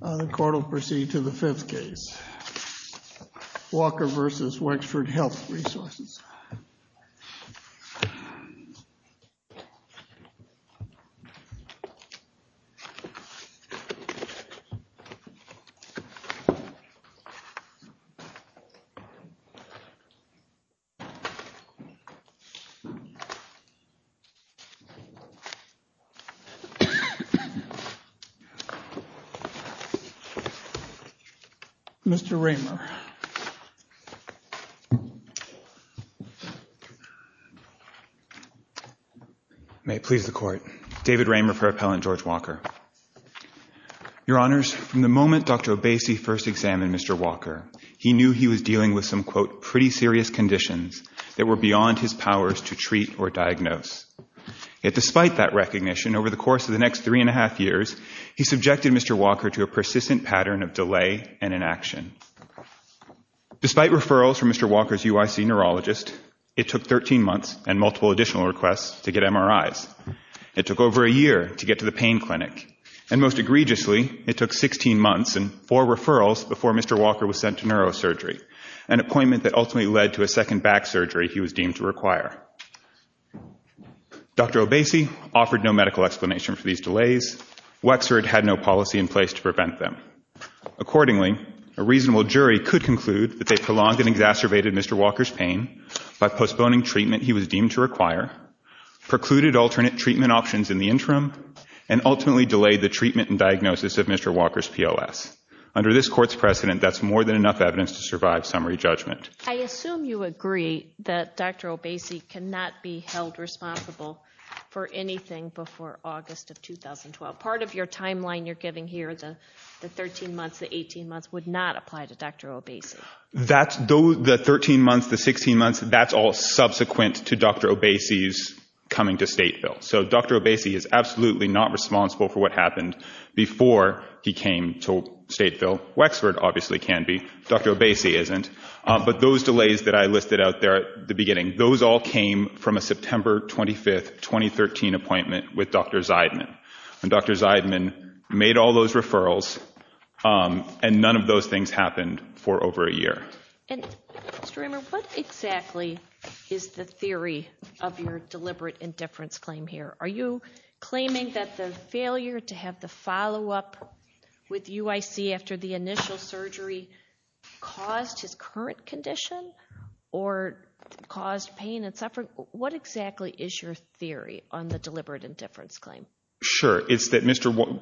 The court will proceed to the fifth case, Walker v. Wexford Health Resources. Mr. Raymer. May it please the court. David Raymer for Appellant George Walker. Your Honors, from the moment Dr. O'Basey first examined Mr. Walker, he knew he was dealing with some, quote, pretty serious conditions that were beyond his powers to treat or diagnose. Yet despite that recognition, over the course of the next three and a half years, he subjected Mr. Walker to a persistent pattern of delay and inaction. Despite referrals from Mr. Walker's UIC neurologist, it took 13 months and multiple additional requests to get MRIs. It took over a year to get to the pain clinic, and most egregiously, it took 16 months and four referrals before Mr. Walker was sent to neurosurgery, an appointment that ultimately led to a second back surgery he was deemed to require. Dr. O'Basey offered no medical explanation for these delays. Wexford had no policy in place to prevent them. Accordingly, a reasonable jury could conclude that they prolonged and exacerbated Mr. Walker's pain by postponing treatment he was deemed to require, precluded alternate treatment options in the interim, and ultimately delayed the treatment and diagnosis of Mr. Walker's POS. Under this court's precedent, that's more than enough evidence to survive summary judgment. I assume you agree that Dr. O'Basey cannot be held responsible for anything before August of 2012. Part of your timeline you're giving here, the 13 months, the 18 months, would not apply to Dr. O'Basey. The 13 months, the 16 months, that's all subsequent to Dr. O'Basey's coming to Stateville. So Dr. O'Basey is absolutely not responsible for what happened before he came to Stateville. Wexford obviously can be. Dr. O'Basey isn't. But those delays that I listed out there at the beginning, those all came from a September 25, 2013 appointment with Dr. Zeidman. Dr. Zeidman made all those referrals, and none of those things happened for over a year. And, Mr. Reimer, what exactly is the theory of your deliberate indifference claim here? Are you claiming that the failure to have the follow-up with UIC after the initial surgery caused his current condition or caused pain and suffering? What exactly is your theory on the deliberate indifference claim? Sure. It's that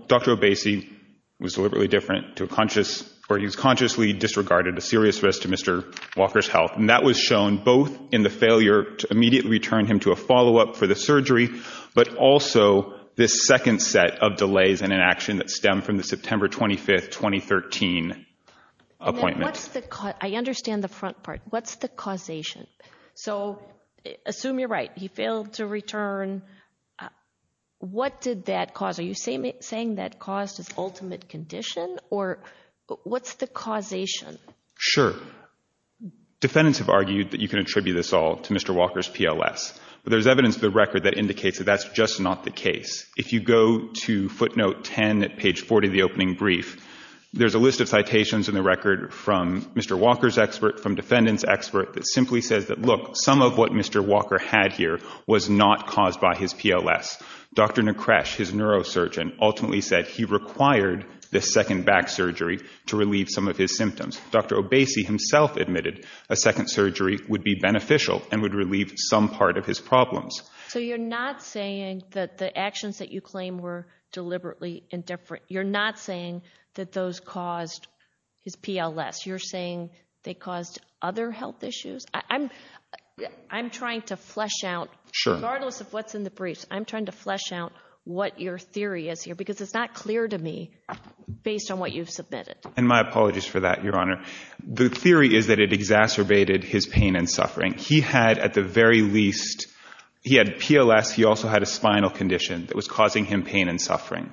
Dr. O'Basey was deliberately different to a conscious or he was consciously disregarded a serious risk to Mr. Walker's health. And that was shown both in the failure to immediately return him to a follow-up for the surgery but also this second set of delays and inaction that stem from the September 25, 2013 appointment. I understand the front part. What's the causation? So assume you're right. He failed to return. What did that cause? Are you saying that caused his ultimate condition? Or what's the causation? Sure. Defendants have argued that you can attribute this all to Mr. Walker's PLS. But there's evidence in the record that indicates that that's just not the case. If you go to footnote 10 at page 40 of the opening brief, there's a list of citations in the record from Mr. Walker's expert, from defendant's expert, that simply says that, look, some of what Mr. Walker had here was not caused by his PLS. Dr. Nekresh, his neurosurgeon, ultimately said he required this second back surgery to relieve some of his symptoms. Dr. Obese himself admitted a second surgery would be beneficial and would relieve some part of his problems. So you're not saying that the actions that you claim were deliberately indifferent, you're not saying that those caused his PLS, you're saying they caused other health issues? I'm trying to flesh out, regardless of what's in the briefs, I'm trying to flesh out what your theory is here because it's not clear to me based on what you've submitted. And my apologies for that, Your Honor. The theory is that it exacerbated his pain and suffering. He had, at the very least, he had PLS, he also had a spinal condition that was causing him pain and suffering.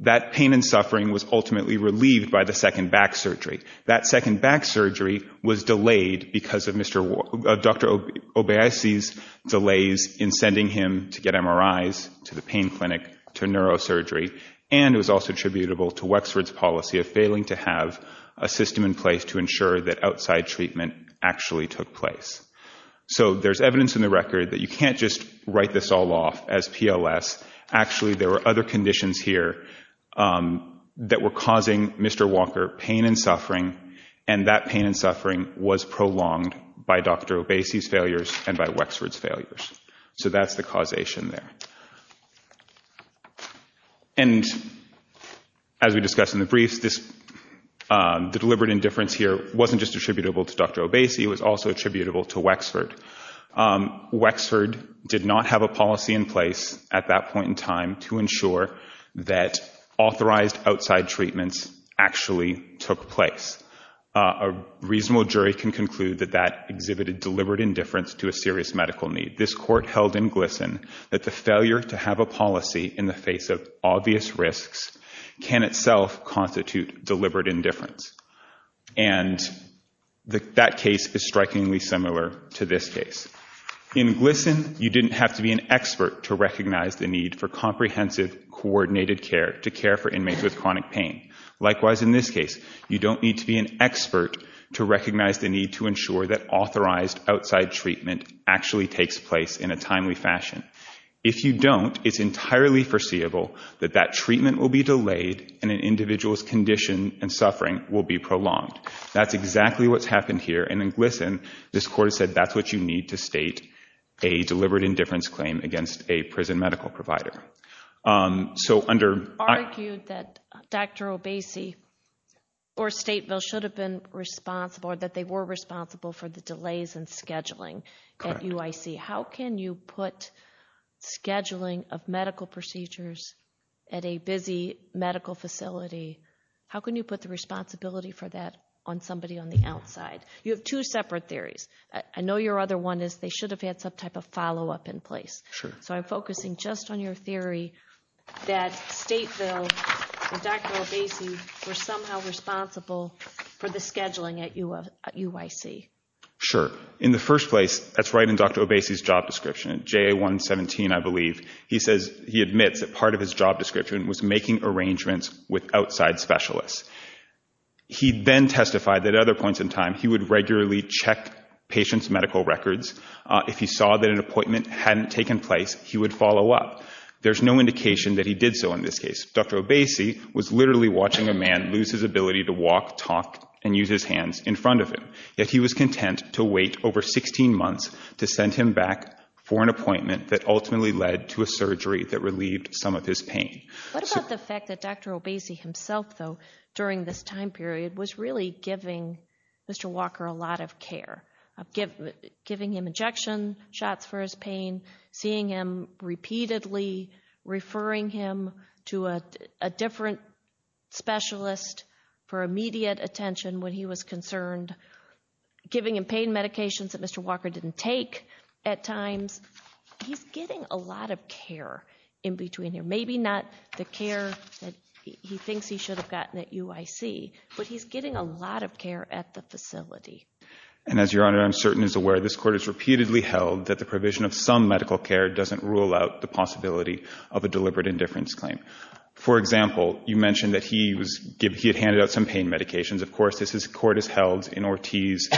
That pain and suffering was ultimately relieved by the second back surgery. That second back surgery was delayed because of Dr. Obese's delays in sending him to get MRIs, to the pain clinic, to neurosurgery, and it was also attributable to Wexford's policy of failing to have a system in place to ensure that outside treatment actually took place. So there's evidence in the record that you can't just write this all off as PLS. Actually, there were other conditions here that were causing Mr. Walker pain and suffering, and that pain and suffering was prolonged by Dr. Obese's failures and by Wexford's failures. So that's the causation there. And as we discussed in the briefs, the deliberate indifference here wasn't just attributable to Dr. Obese. It was also attributable to Wexford. Wexford did not have a policy in place at that point in time to ensure that authorized outside treatments actually took place. A reasonable jury can conclude that that exhibited deliberate indifference to a serious medical need. And I think this court held in Gleason that the failure to have a policy in the face of obvious risks can itself constitute deliberate indifference. And that case is strikingly similar to this case. In Gleason, you didn't have to be an expert to recognize the need for comprehensive coordinated care to care for inmates with chronic pain. Likewise, in this case, you don't need to be an expert to recognize the need to ensure that authorized outside treatment actually takes place in a timely fashion. If you don't, it's entirely foreseeable that that treatment will be delayed and an individual's condition and suffering will be prolonged. That's exactly what's happened here. And in Gleason, this court said that's what you need to state a deliberate indifference claim against a prison medical provider. You argued that Dr. Obese or Stateville should have been responsible or that they were responsible for the delays in scheduling at UIC. How can you put scheduling of medical procedures at a busy medical facility, how can you put the responsibility for that on somebody on the outside? You have two separate theories. I know your other one is they should have had some type of follow-up in place. So I'm focusing just on your theory that Stateville and Dr. Obese were somehow responsible for the scheduling at UIC. Sure. In the first place, that's right in Dr. Obese's job description, JA-117, I believe. He admits that part of his job description was making arrangements with outside specialists. He then testified that at other points in time he would regularly check patients' medical records. If he saw that an appointment hadn't taken place, he would follow up. There's no indication that he did so in this case. Dr. Obese was literally watching a man lose his ability to walk, talk, and use his hands in front of him. Yet he was content to wait over 16 months to send him back for an appointment that ultimately led to a surgery that relieved some of his pain. What about the fact that Dr. Obese himself, though, during this time period was really giving Mr. Walker a lot of care, giving him injection shots for his pain, seeing him repeatedly referring him to a different specialist for immediate attention when he was concerned, giving him pain medications that Mr. Walker didn't take at times? He's getting a lot of care in between there. Maybe not the care that he thinks he should have gotten at UIC, but he's getting a lot of care at the facility. And as Your Honor, I'm certain as aware, this court has repeatedly held that the provision of some medical care doesn't rule out the possibility of a deliberate indifference claim. For example, you mentioned that he had handed out some pain medications. Of course, as this court has held in Ortiz,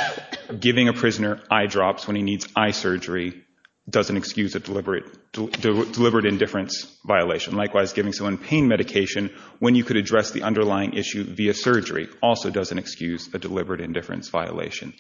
giving a prisoner eye drops when he needs eye surgery doesn't excuse a deliberate indifference violation. Likewise, giving someone pain medication when you could address the underlying issue via surgery also doesn't excuse a deliberate indifference violation.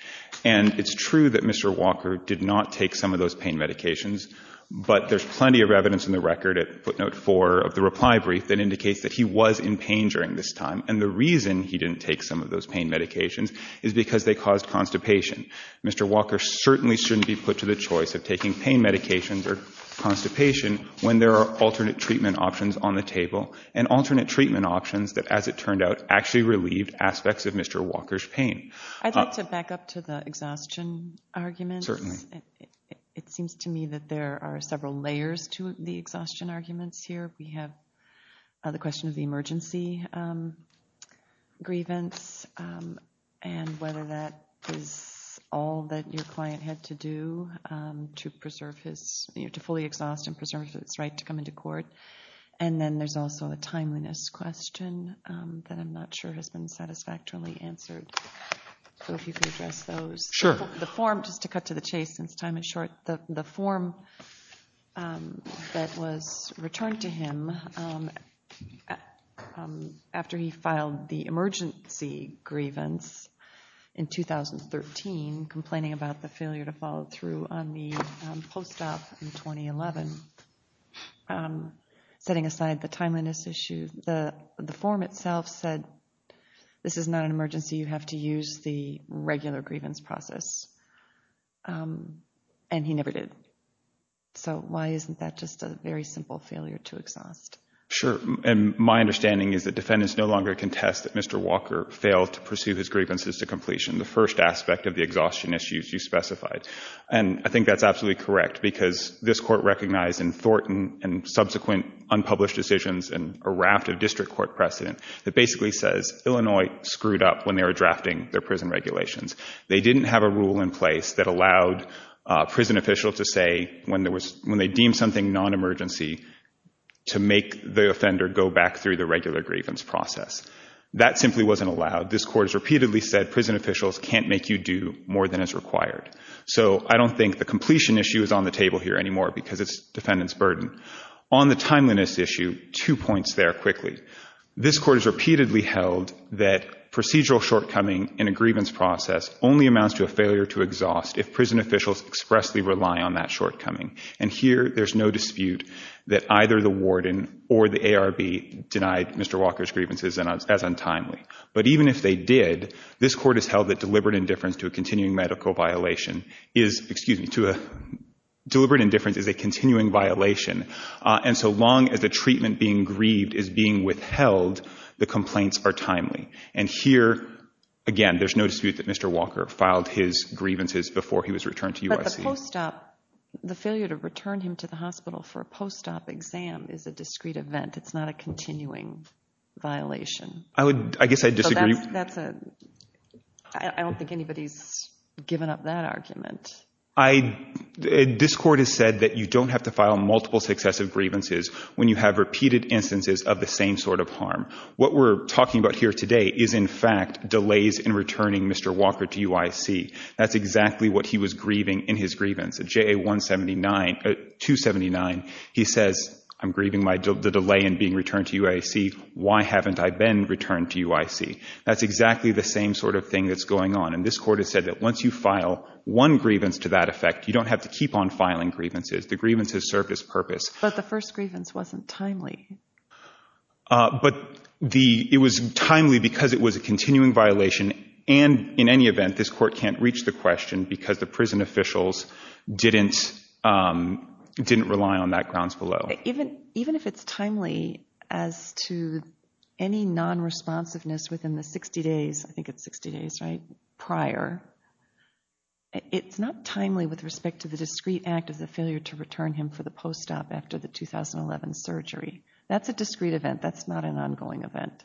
And it's true that Mr. Walker did not take some of those pain medications, but there's plenty of evidence in the record at footnote four of the reply brief that indicates that he was in pain during this time. And the reason he didn't take some of those pain medications is because they caused constipation. Mr. Walker certainly shouldn't be put to the choice of taking pain medications or constipation when there are alternate treatment options on the table, and alternate treatment options that, as it turned out, actually relieved aspects of Mr. Walker's pain. I'd like to back up to the exhaustion argument. Certainly. It seems to me that there are several layers to the exhaustion arguments here. We have the question of the emergency grievance and whether that is all that your client had to do to fully exhaust and preserve his right to come into court. And then there's also a timeliness question that I'm not sure has been satisfactorily answered. So if you could address those. Sure. The form, just to cut to the chase since time is short, the form that was returned to him after he filed the emergency grievance in 2013, complaining about the failure to follow through on the post-op in 2011, setting aside the timeliness issue, the form itself said, this is not an emergency. You have to use the regular grievance process. And he never did. So why isn't that just a very simple failure to exhaust? Sure. And my understanding is that defendants no longer contest that Mr. Walker failed to pursue his grievances to completion, the first aspect of the exhaustion issues you specified. And I think that's absolutely correct, because this Court recognized in Thornton and subsequent unpublished decisions and a raft of district court precedent that basically says Illinois screwed up when they were drafting their prison regulations. They didn't have a rule in place that allowed a prison official to say when they deemed something non-emergency to make the offender go back through the regular grievance process. That simply wasn't allowed. This Court has repeatedly said prison officials can't make you do more than is required. So I don't think the completion issue is on the table here anymore because it's defendant's burden. On the timeliness issue, two points there quickly. This Court has repeatedly held that procedural shortcoming in a grievance process only amounts to a failure to exhaust if prison officials expressly rely on that shortcoming. And here there's no dispute that either the warden or the ARB denied Mr. Walker's grievances as untimely. But even if they did, this Court has held that deliberate indifference to a continuing medical violation is, excuse me, to a deliberate indifference is a continuing violation. And so long as the treatment being grieved is being withheld, the complaints are timely. And here, again, there's no dispute that Mr. Walker filed his grievances before he was returned to USC. But the post-op, the failure to return him to the hospital for a post-op exam is a discrete event. It's not a continuing violation. I guess I disagree. I don't think anybody's given up that argument. This Court has said that you don't have to file multiple successive grievances when you have repeated instances of the same sort of harm. What we're talking about here today is, in fact, delays in returning Mr. Walker to UIC. That's exactly what he was grieving in his grievance. JA-179, 279, he says, I'm grieving the delay in being returned to UIC. Why haven't I been returned to UIC? That's exactly the same sort of thing that's going on. And this Court has said that once you file one grievance to that effect, you don't have to keep on filing grievances. The grievance has served its purpose. But the first grievance wasn't timely. But it was timely because it was a continuing violation. And, in any event, this Court can't reach the question because the prison officials didn't rely on that grounds below. Even if it's timely as to any non-responsiveness within the 60 days, I think it's 60 days, right, prior, it's not timely with respect to the discrete act of the failure to return him for the post-op after the 2011 surgery. That's a discrete event. That's not an ongoing event.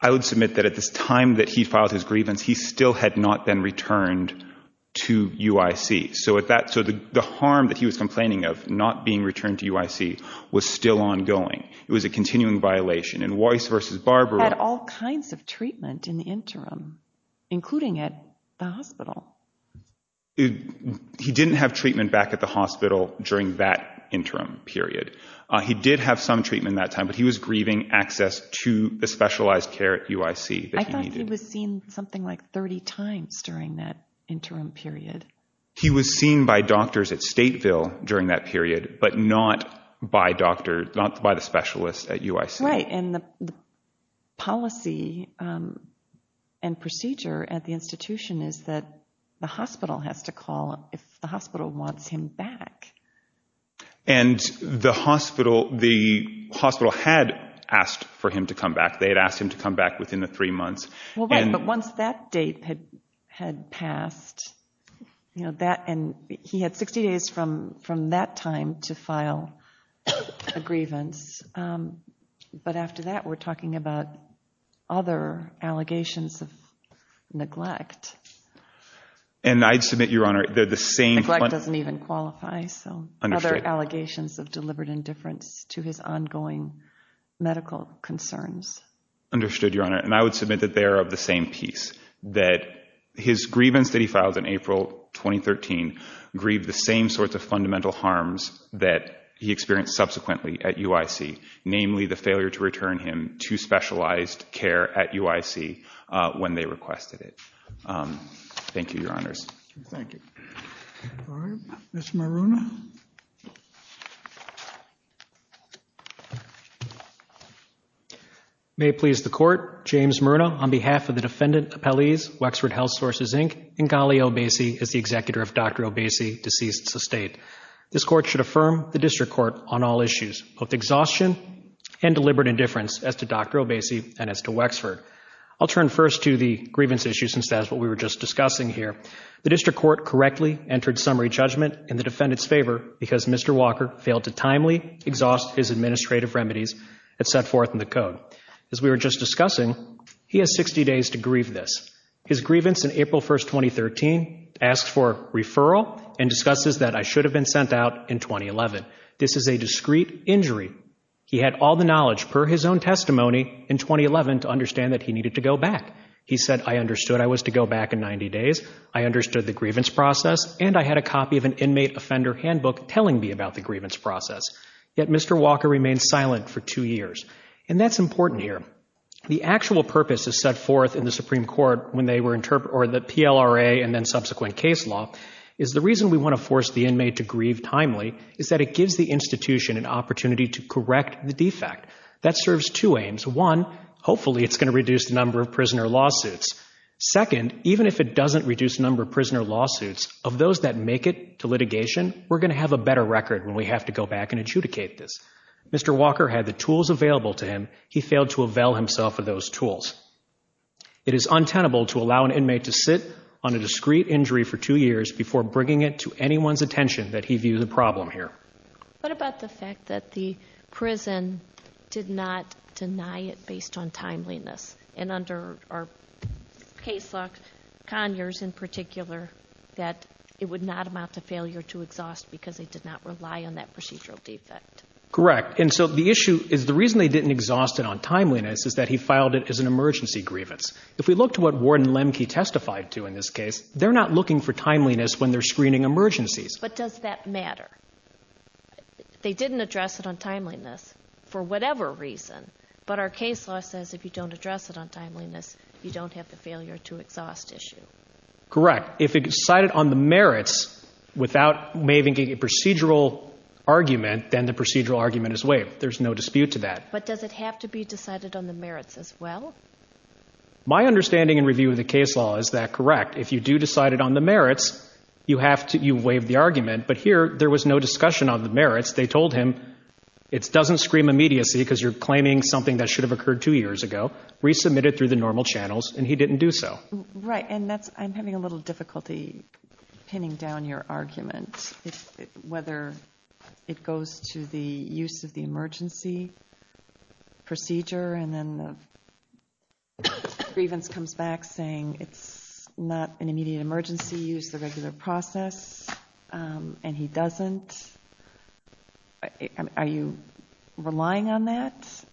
I would submit that at this time that he filed his grievance, he still had not been returned to UIC. So the harm that he was complaining of, not being returned to UIC, was still ongoing. It was a continuing violation. And Weiss v. Barbaro had all kinds of treatment in the interim, including at the hospital. He didn't have treatment back at the hospital during that interim period. He did have some treatment at that time, but he was grieving access to the specialized care at UIC that he needed. He was seen something like 30 times during that interim period. He was seen by doctors at Stateville during that period, but not by the specialists at UIC. Right. And the policy and procedure at the institution is that the hospital has to call if the hospital wants him back. And the hospital had asked for him to come back. They had asked him to come back within the three months. Well, right. But once that date had passed, and he had 60 days from that time to file a grievance, but after that we're talking about other allegations of neglect. And I'd submit, Your Honor, they're the same. Neglect doesn't even qualify. So other allegations of deliberate indifference to his ongoing medical concerns. Understood, Your Honor. And I would submit that they are of the same piece, that his grievance that he filed in April 2013 grieved the same sorts of fundamental harms that he experienced subsequently at UIC, namely the failure to return him to specialized care at UIC when they requested it. Thank you, Your Honors. Thank you. All right. Mr. Maruna. May it please the Court, James Maruna, on behalf of the defendant appellees, Wexford Health Sources, Inc., and Ghali Obeisi as the executor of Dr. Obeisi's deceased estate. This Court should affirm the District Court on all issues, both exhaustion and deliberate indifference as to Dr. Obeisi and as to Wexford. I'll turn first to the grievance issue since that's what we were just discussing here. The District Court correctly entered summary judgment in the defendant's favor because Mr. Walker failed to timely exhaust his administrative remedies and set forth in the code. As we were just discussing, he has 60 days to grieve this. His grievance in April 1, 2013, asks for a referral and discusses that I should have been sent out in 2011. This is a discreet injury. He had all the knowledge per his own testimony in 2011 to understand that he needed to go back. He said, I understood I was to go back in 90 days. I understood the grievance process, and I had a copy of an inmate offender handbook telling me about the grievance process. Yet Mr. Walker remained silent for two years. And that's important here. The actual purpose is set forth in the Supreme Court when they were interpret or the PLRA and then subsequent case law is the reason we want to force the inmate to grieve timely is that it gives the institution an opportunity to correct the defect. That serves two aims. One, hopefully it's going to reduce the number of prisoner lawsuits. Second, even if it doesn't reduce the number of prisoner lawsuits, of those that make it to litigation, we're going to have a better record when we have to go back and adjudicate this. Mr. Walker had the tools available to him. He failed to avail himself of those tools. It is untenable to allow an inmate to sit on a discreet injury for two years before bringing it to anyone's attention that he view the problem here. What about the fact that the prison did not deny it based on timeliness and under our case law, Conyers in particular, that it would not amount to failure to exhaust because they did not rely on that procedural defect? Correct. And so the issue is the reason they didn't exhaust it on timeliness is that he filed it as an emergency grievance. If we look to what Ward and Lemke testified to in this case, they're not looking for timeliness when they're screening emergencies. But does that matter? They didn't address it on timeliness for whatever reason, but our case law says if you don't address it on timeliness, you don't have the failure to exhaust issue. Correct. If it's decided on the merits without waiving a procedural argument, then the procedural argument is waived. There's no dispute to that. But does it have to be decided on the merits as well? My understanding and review of the case law is that correct. If you do decide it on the merits, you waive the argument, but here there was no discussion on the merits. They told him it doesn't scream immediacy because you're claiming something that should have occurred two years ago, resubmitted through the normal channels, and he didn't do so. Right. And I'm having a little difficulty pinning down your argument, whether it goes to the use of the emergency procedure and then the grievance comes back saying it's not an immediate emergency, use the regular process, and he doesn't. Are you relying on that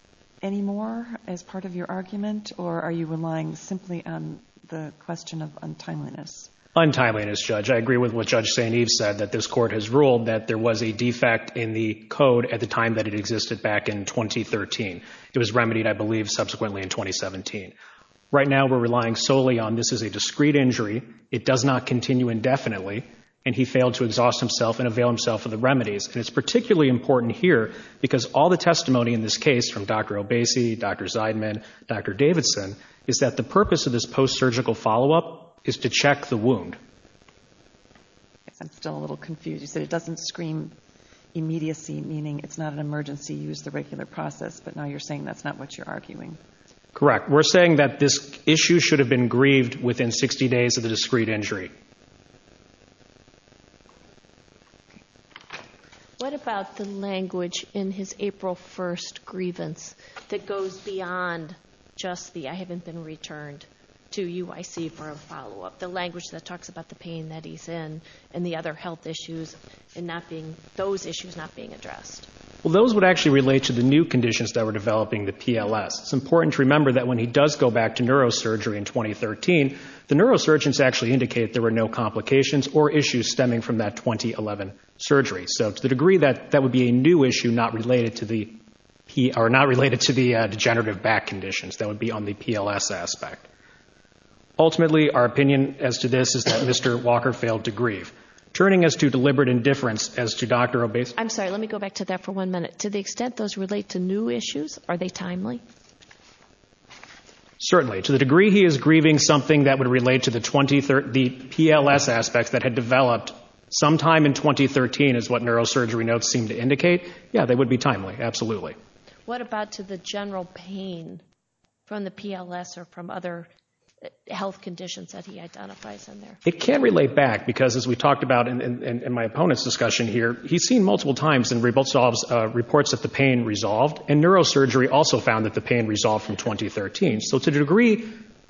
anymore as part of your argument, or are you relying simply on the question of untimeliness? Untimeliness, Judge. I agree with what Judge St. Eve said, that this court has ruled that there was a defect in the code at the time that it existed back in 2013. It was remedied, I believe, subsequently in 2017. Right now we're relying solely on this is a discrete injury. It does not continue indefinitely, and he failed to exhaust himself and avail himself of the remedies. And it's particularly important here because all the testimony in this case, from Dr. Obese, Dr. Zeidman, Dr. Davidson, is that the purpose of this post-surgical follow-up is to check the wound. I'm still a little confused. You said it doesn't scream immediacy, meaning it's not an emergency, use the regular process, but now you're saying that's not what you're arguing. Correct. We're saying that this issue should have been grieved within 60 days of the discrete injury. What about the language in his April 1st grievance that goes beyond just the I haven't been returned to UIC for a follow-up, the language that talks about the pain that he's in and the other health issues and those issues not being addressed? Well, those would actually relate to the new conditions that were developing the PLS. It's important to remember that when he does go back to neurosurgery in 2013, the neurosurgeons actually indicate there were no complications or issues stemming from that 2011 surgery. So to the degree that that would be a new issue not related to the degenerative back conditions, that would be on the PLS aspect. Ultimately, our opinion as to this is that Mr. Walker failed to grieve. Turning us to deliberate indifference as to Dr. Obese. I'm sorry, let me go back to that for one minute. To the extent those relate to new issues, are they timely? Certainly. To the degree he is grieving something that would relate to the PLS aspects that had developed sometime in 2013 is what neurosurgery notes seem to indicate, yeah, they would be timely, absolutely. What about to the general pain from the PLS or from other health conditions that he identifies in there? It can relate back because as we talked about in my opponent's discussion here, he's seen multiple times in reports that the pain resolved, and neurosurgery also found that the pain resolved from 2013. So to the degree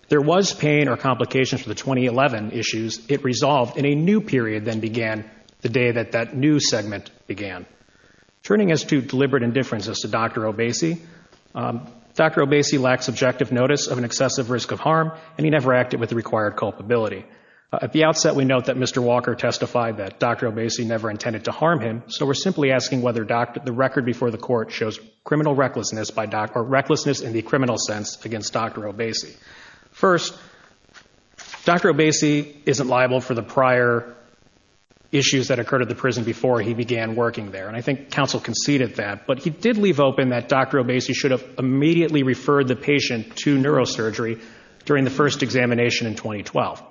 there was pain or complications from the 2011 issues, it resolved in a new period than began the day that that new segment began. Turning us to deliberate indifference as to Dr. Obese, Dr. Obese lacked subjective notice of an excessive risk of harm, and he never acted with the required culpability. At the outset, we note that Mr. Walker testified that Dr. Obese never intended to harm him, so we're simply asking whether the record before the court shows criminal recklessness in the criminal sense against Dr. Obese. First, Dr. Obese isn't liable for the prior issues that occurred at the prison before he began working there, and I think counsel conceded that, but he did leave open that Dr. Obese should have immediately referred the patient to neurosurgery during the first examination in 2012.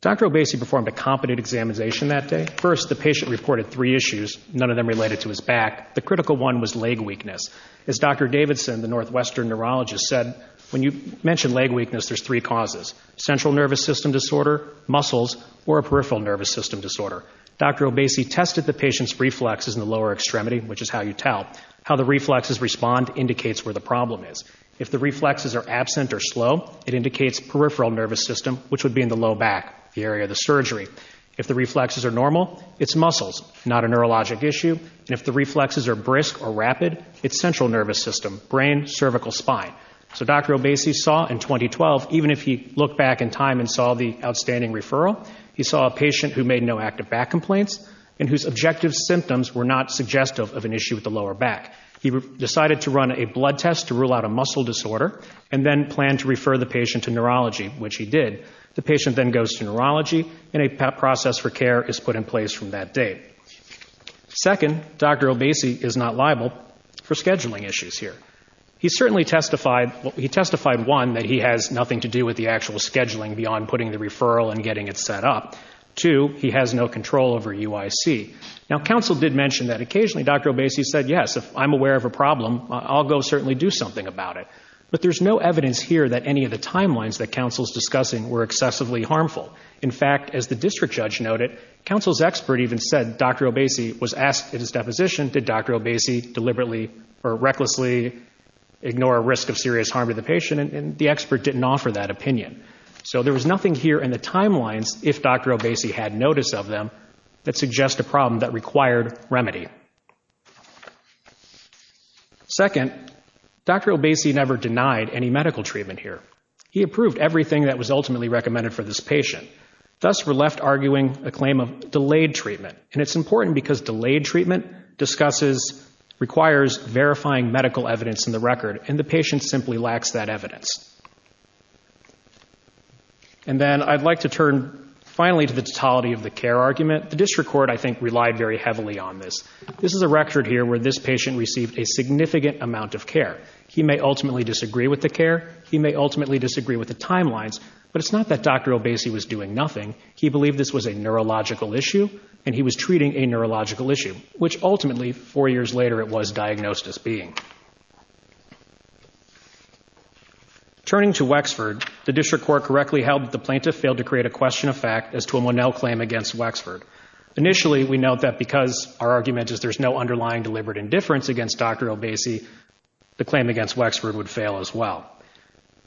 Dr. Obese performed a competent examination that day. At first, the patient reported three issues, none of them related to his back. The critical one was leg weakness. As Dr. Davidson, the Northwestern neurologist, said, when you mention leg weakness, there's three causes, central nervous system disorder, muscles, or a peripheral nervous system disorder. Dr. Obese tested the patient's reflexes in the lower extremity, which is how you tell. How the reflexes respond indicates where the problem is. If the reflexes are absent or slow, it indicates peripheral nervous system, which would be in the low back, the area of the surgery. If the reflexes are normal, it's muscles, not a neurologic issue. If the reflexes are brisk or rapid, it's central nervous system, brain, cervical, spine. So Dr. Obese saw in 2012, even if he looked back in time and saw the outstanding referral, he saw a patient who made no active back complaints and whose objective symptoms were not suggestive of an issue with the lower back. He decided to run a blood test to rule out a muscle disorder and then planned to refer the patient to neurology, which he did. The patient then goes to neurology, and a process for care is put in place from that date. Second, Dr. Obese is not liable for scheduling issues here. He testified, one, that he has nothing to do with the actual scheduling beyond putting the referral and getting it set up. Two, he has no control over UIC. Now, counsel did mention that occasionally Dr. Obese said, yes, if I'm aware of a problem, I'll go certainly do something about it. But there's no evidence here that any of the timelines that counsel is discussing were excessively harmful. In fact, as the district judge noted, counsel's expert even said Dr. Obese was asked in his deposition, did Dr. Obese deliberately or recklessly ignore a risk of serious harm to the patient? And the expert didn't offer that opinion. So there was nothing here in the timelines, if Dr. Obese had notice of them, that suggest a problem that required remedy. Second, Dr. Obese never denied any medical treatment here. He approved everything that was ultimately recommended for this patient. Thus, we're left arguing a claim of delayed treatment. And it's important because delayed treatment discusses, requires verifying medical evidence in the record, and the patient simply lacks that evidence. And then I'd like to turn finally to the totality of the care argument. The district court, I think, relied very heavily on this. This is a record here where this patient received a significant amount of care. He may ultimately disagree with the care. He may ultimately disagree with the timelines. But it's not that Dr. Obese was doing nothing. He believed this was a neurological issue, and he was treating a neurological issue, which ultimately, four years later, it was diagnosed as being. Turning to Wexford, the district court correctly held that the plaintiff failed to create a question of fact as to a Monell claim against Wexford. Initially, we note that because our argument is there's no underlying deliberate indifference against Dr. Obese, the claim against Wexford would fail as well.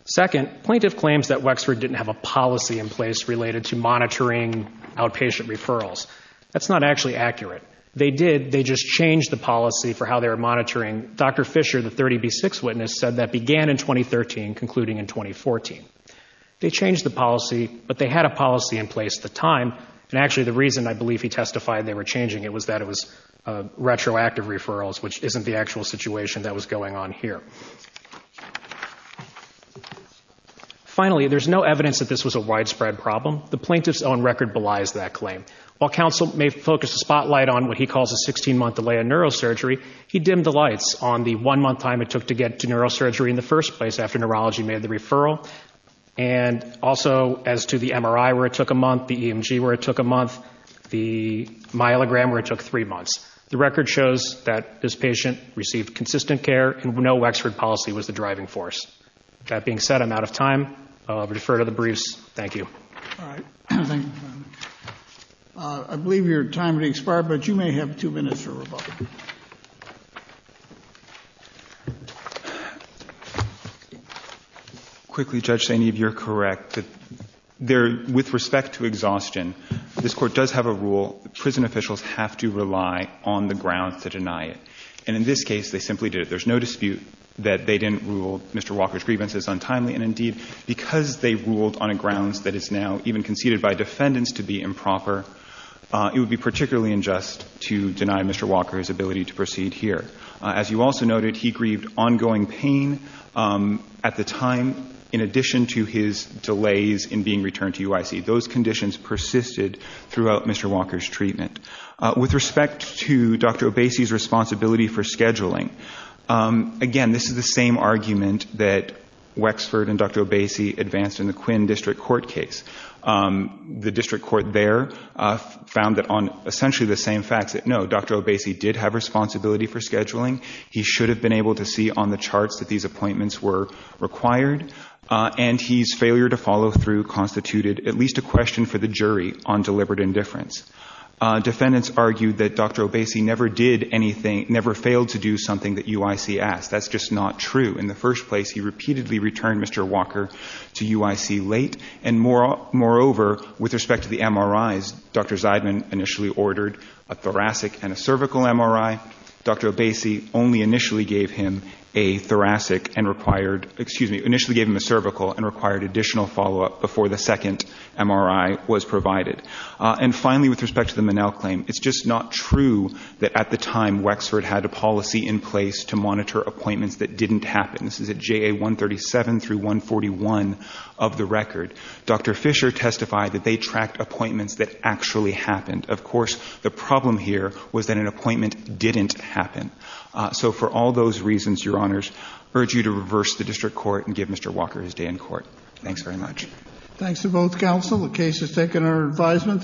Second, plaintiff claims that Wexford didn't have a policy in place related to monitoring outpatient referrals. That's not actually accurate. They did. They just changed the policy for how they were monitoring. Dr. Fisher, the 30B6 witness, said that began in 2013, concluding in 2014. They changed the policy, but they had a policy in place at the time. And actually, the reason I believe he testified they were changing it was that it was retroactive referrals, which isn't the actual situation that was going on here. Finally, there's no evidence that this was a widespread problem. The plaintiff's own record belies that claim. While counsel may focus the spotlight on what he calls a 16-month delay in neurosurgery, he dimmed the lights on the one-month time it took to get to neurosurgery in the first place after neurology made the referral, and also as to the MRI where it took a month, the EMG where it took a month, the myelogram where it took three months. The record shows that this patient received consistent care and no Wexford policy was the driving force. That being said, I'm out of time. I'll defer to the briefs. Thank you. All right. Thank you. I believe your time has expired, but you may have two minutes for rebuttal. Quickly, Judge Saineev, you're correct. With respect to exhaustion, this Court does have a rule. Prison officials have to rely on the grounds to deny it. And in this case, they simply did it. There's no dispute that they didn't rule Mr. Walker's grievances untimely. And, indeed, because they ruled on a grounds that is now even conceded by defendants to be improper, it would be particularly unjust to deny Mr. Walker his ability to proceed here. As you also noted, he grieved ongoing pain at the time, in addition to his delays in being returned to UIC. Those conditions persisted throughout Mr. Walker's treatment. With respect to Dr. Obese's responsibility for scheduling, again, this is the same argument that Wexford and Dr. Obese advanced in the Quinn District Court case. The district court there found that on essentially the same facts that, no, Dr. Obese did have responsibility for scheduling. He should have been able to see on the charts that these appointments were required. And his failure to follow through constituted at least a question for the jury on deliberate indifference. Defendants argued that Dr. Obese never did anything, never failed to do something that UIC asked. That's just not true. In the first place, he repeatedly returned Mr. Walker to UIC late. And moreover, with respect to the MRIs, Dr. Zeidman initially ordered a thoracic and a cervical MRI. Dr. Obese only initially gave him a thoracic and required, excuse me, initially gave him a cervical and required additional follow-up before the second MRI was provided. And finally, with respect to the Minnell claim, it's just not true that at the time This is at JA 137 through 141 of the record. Dr. Fisher testified that they tracked appointments that actually happened. Of course, the problem here was that an appointment didn't happen. So for all those reasons, Your Honors, I urge you to reverse the district court and give Mr. Walker his day in court. Thanks very much. Thanks to both counsel. The case is taken under advisement.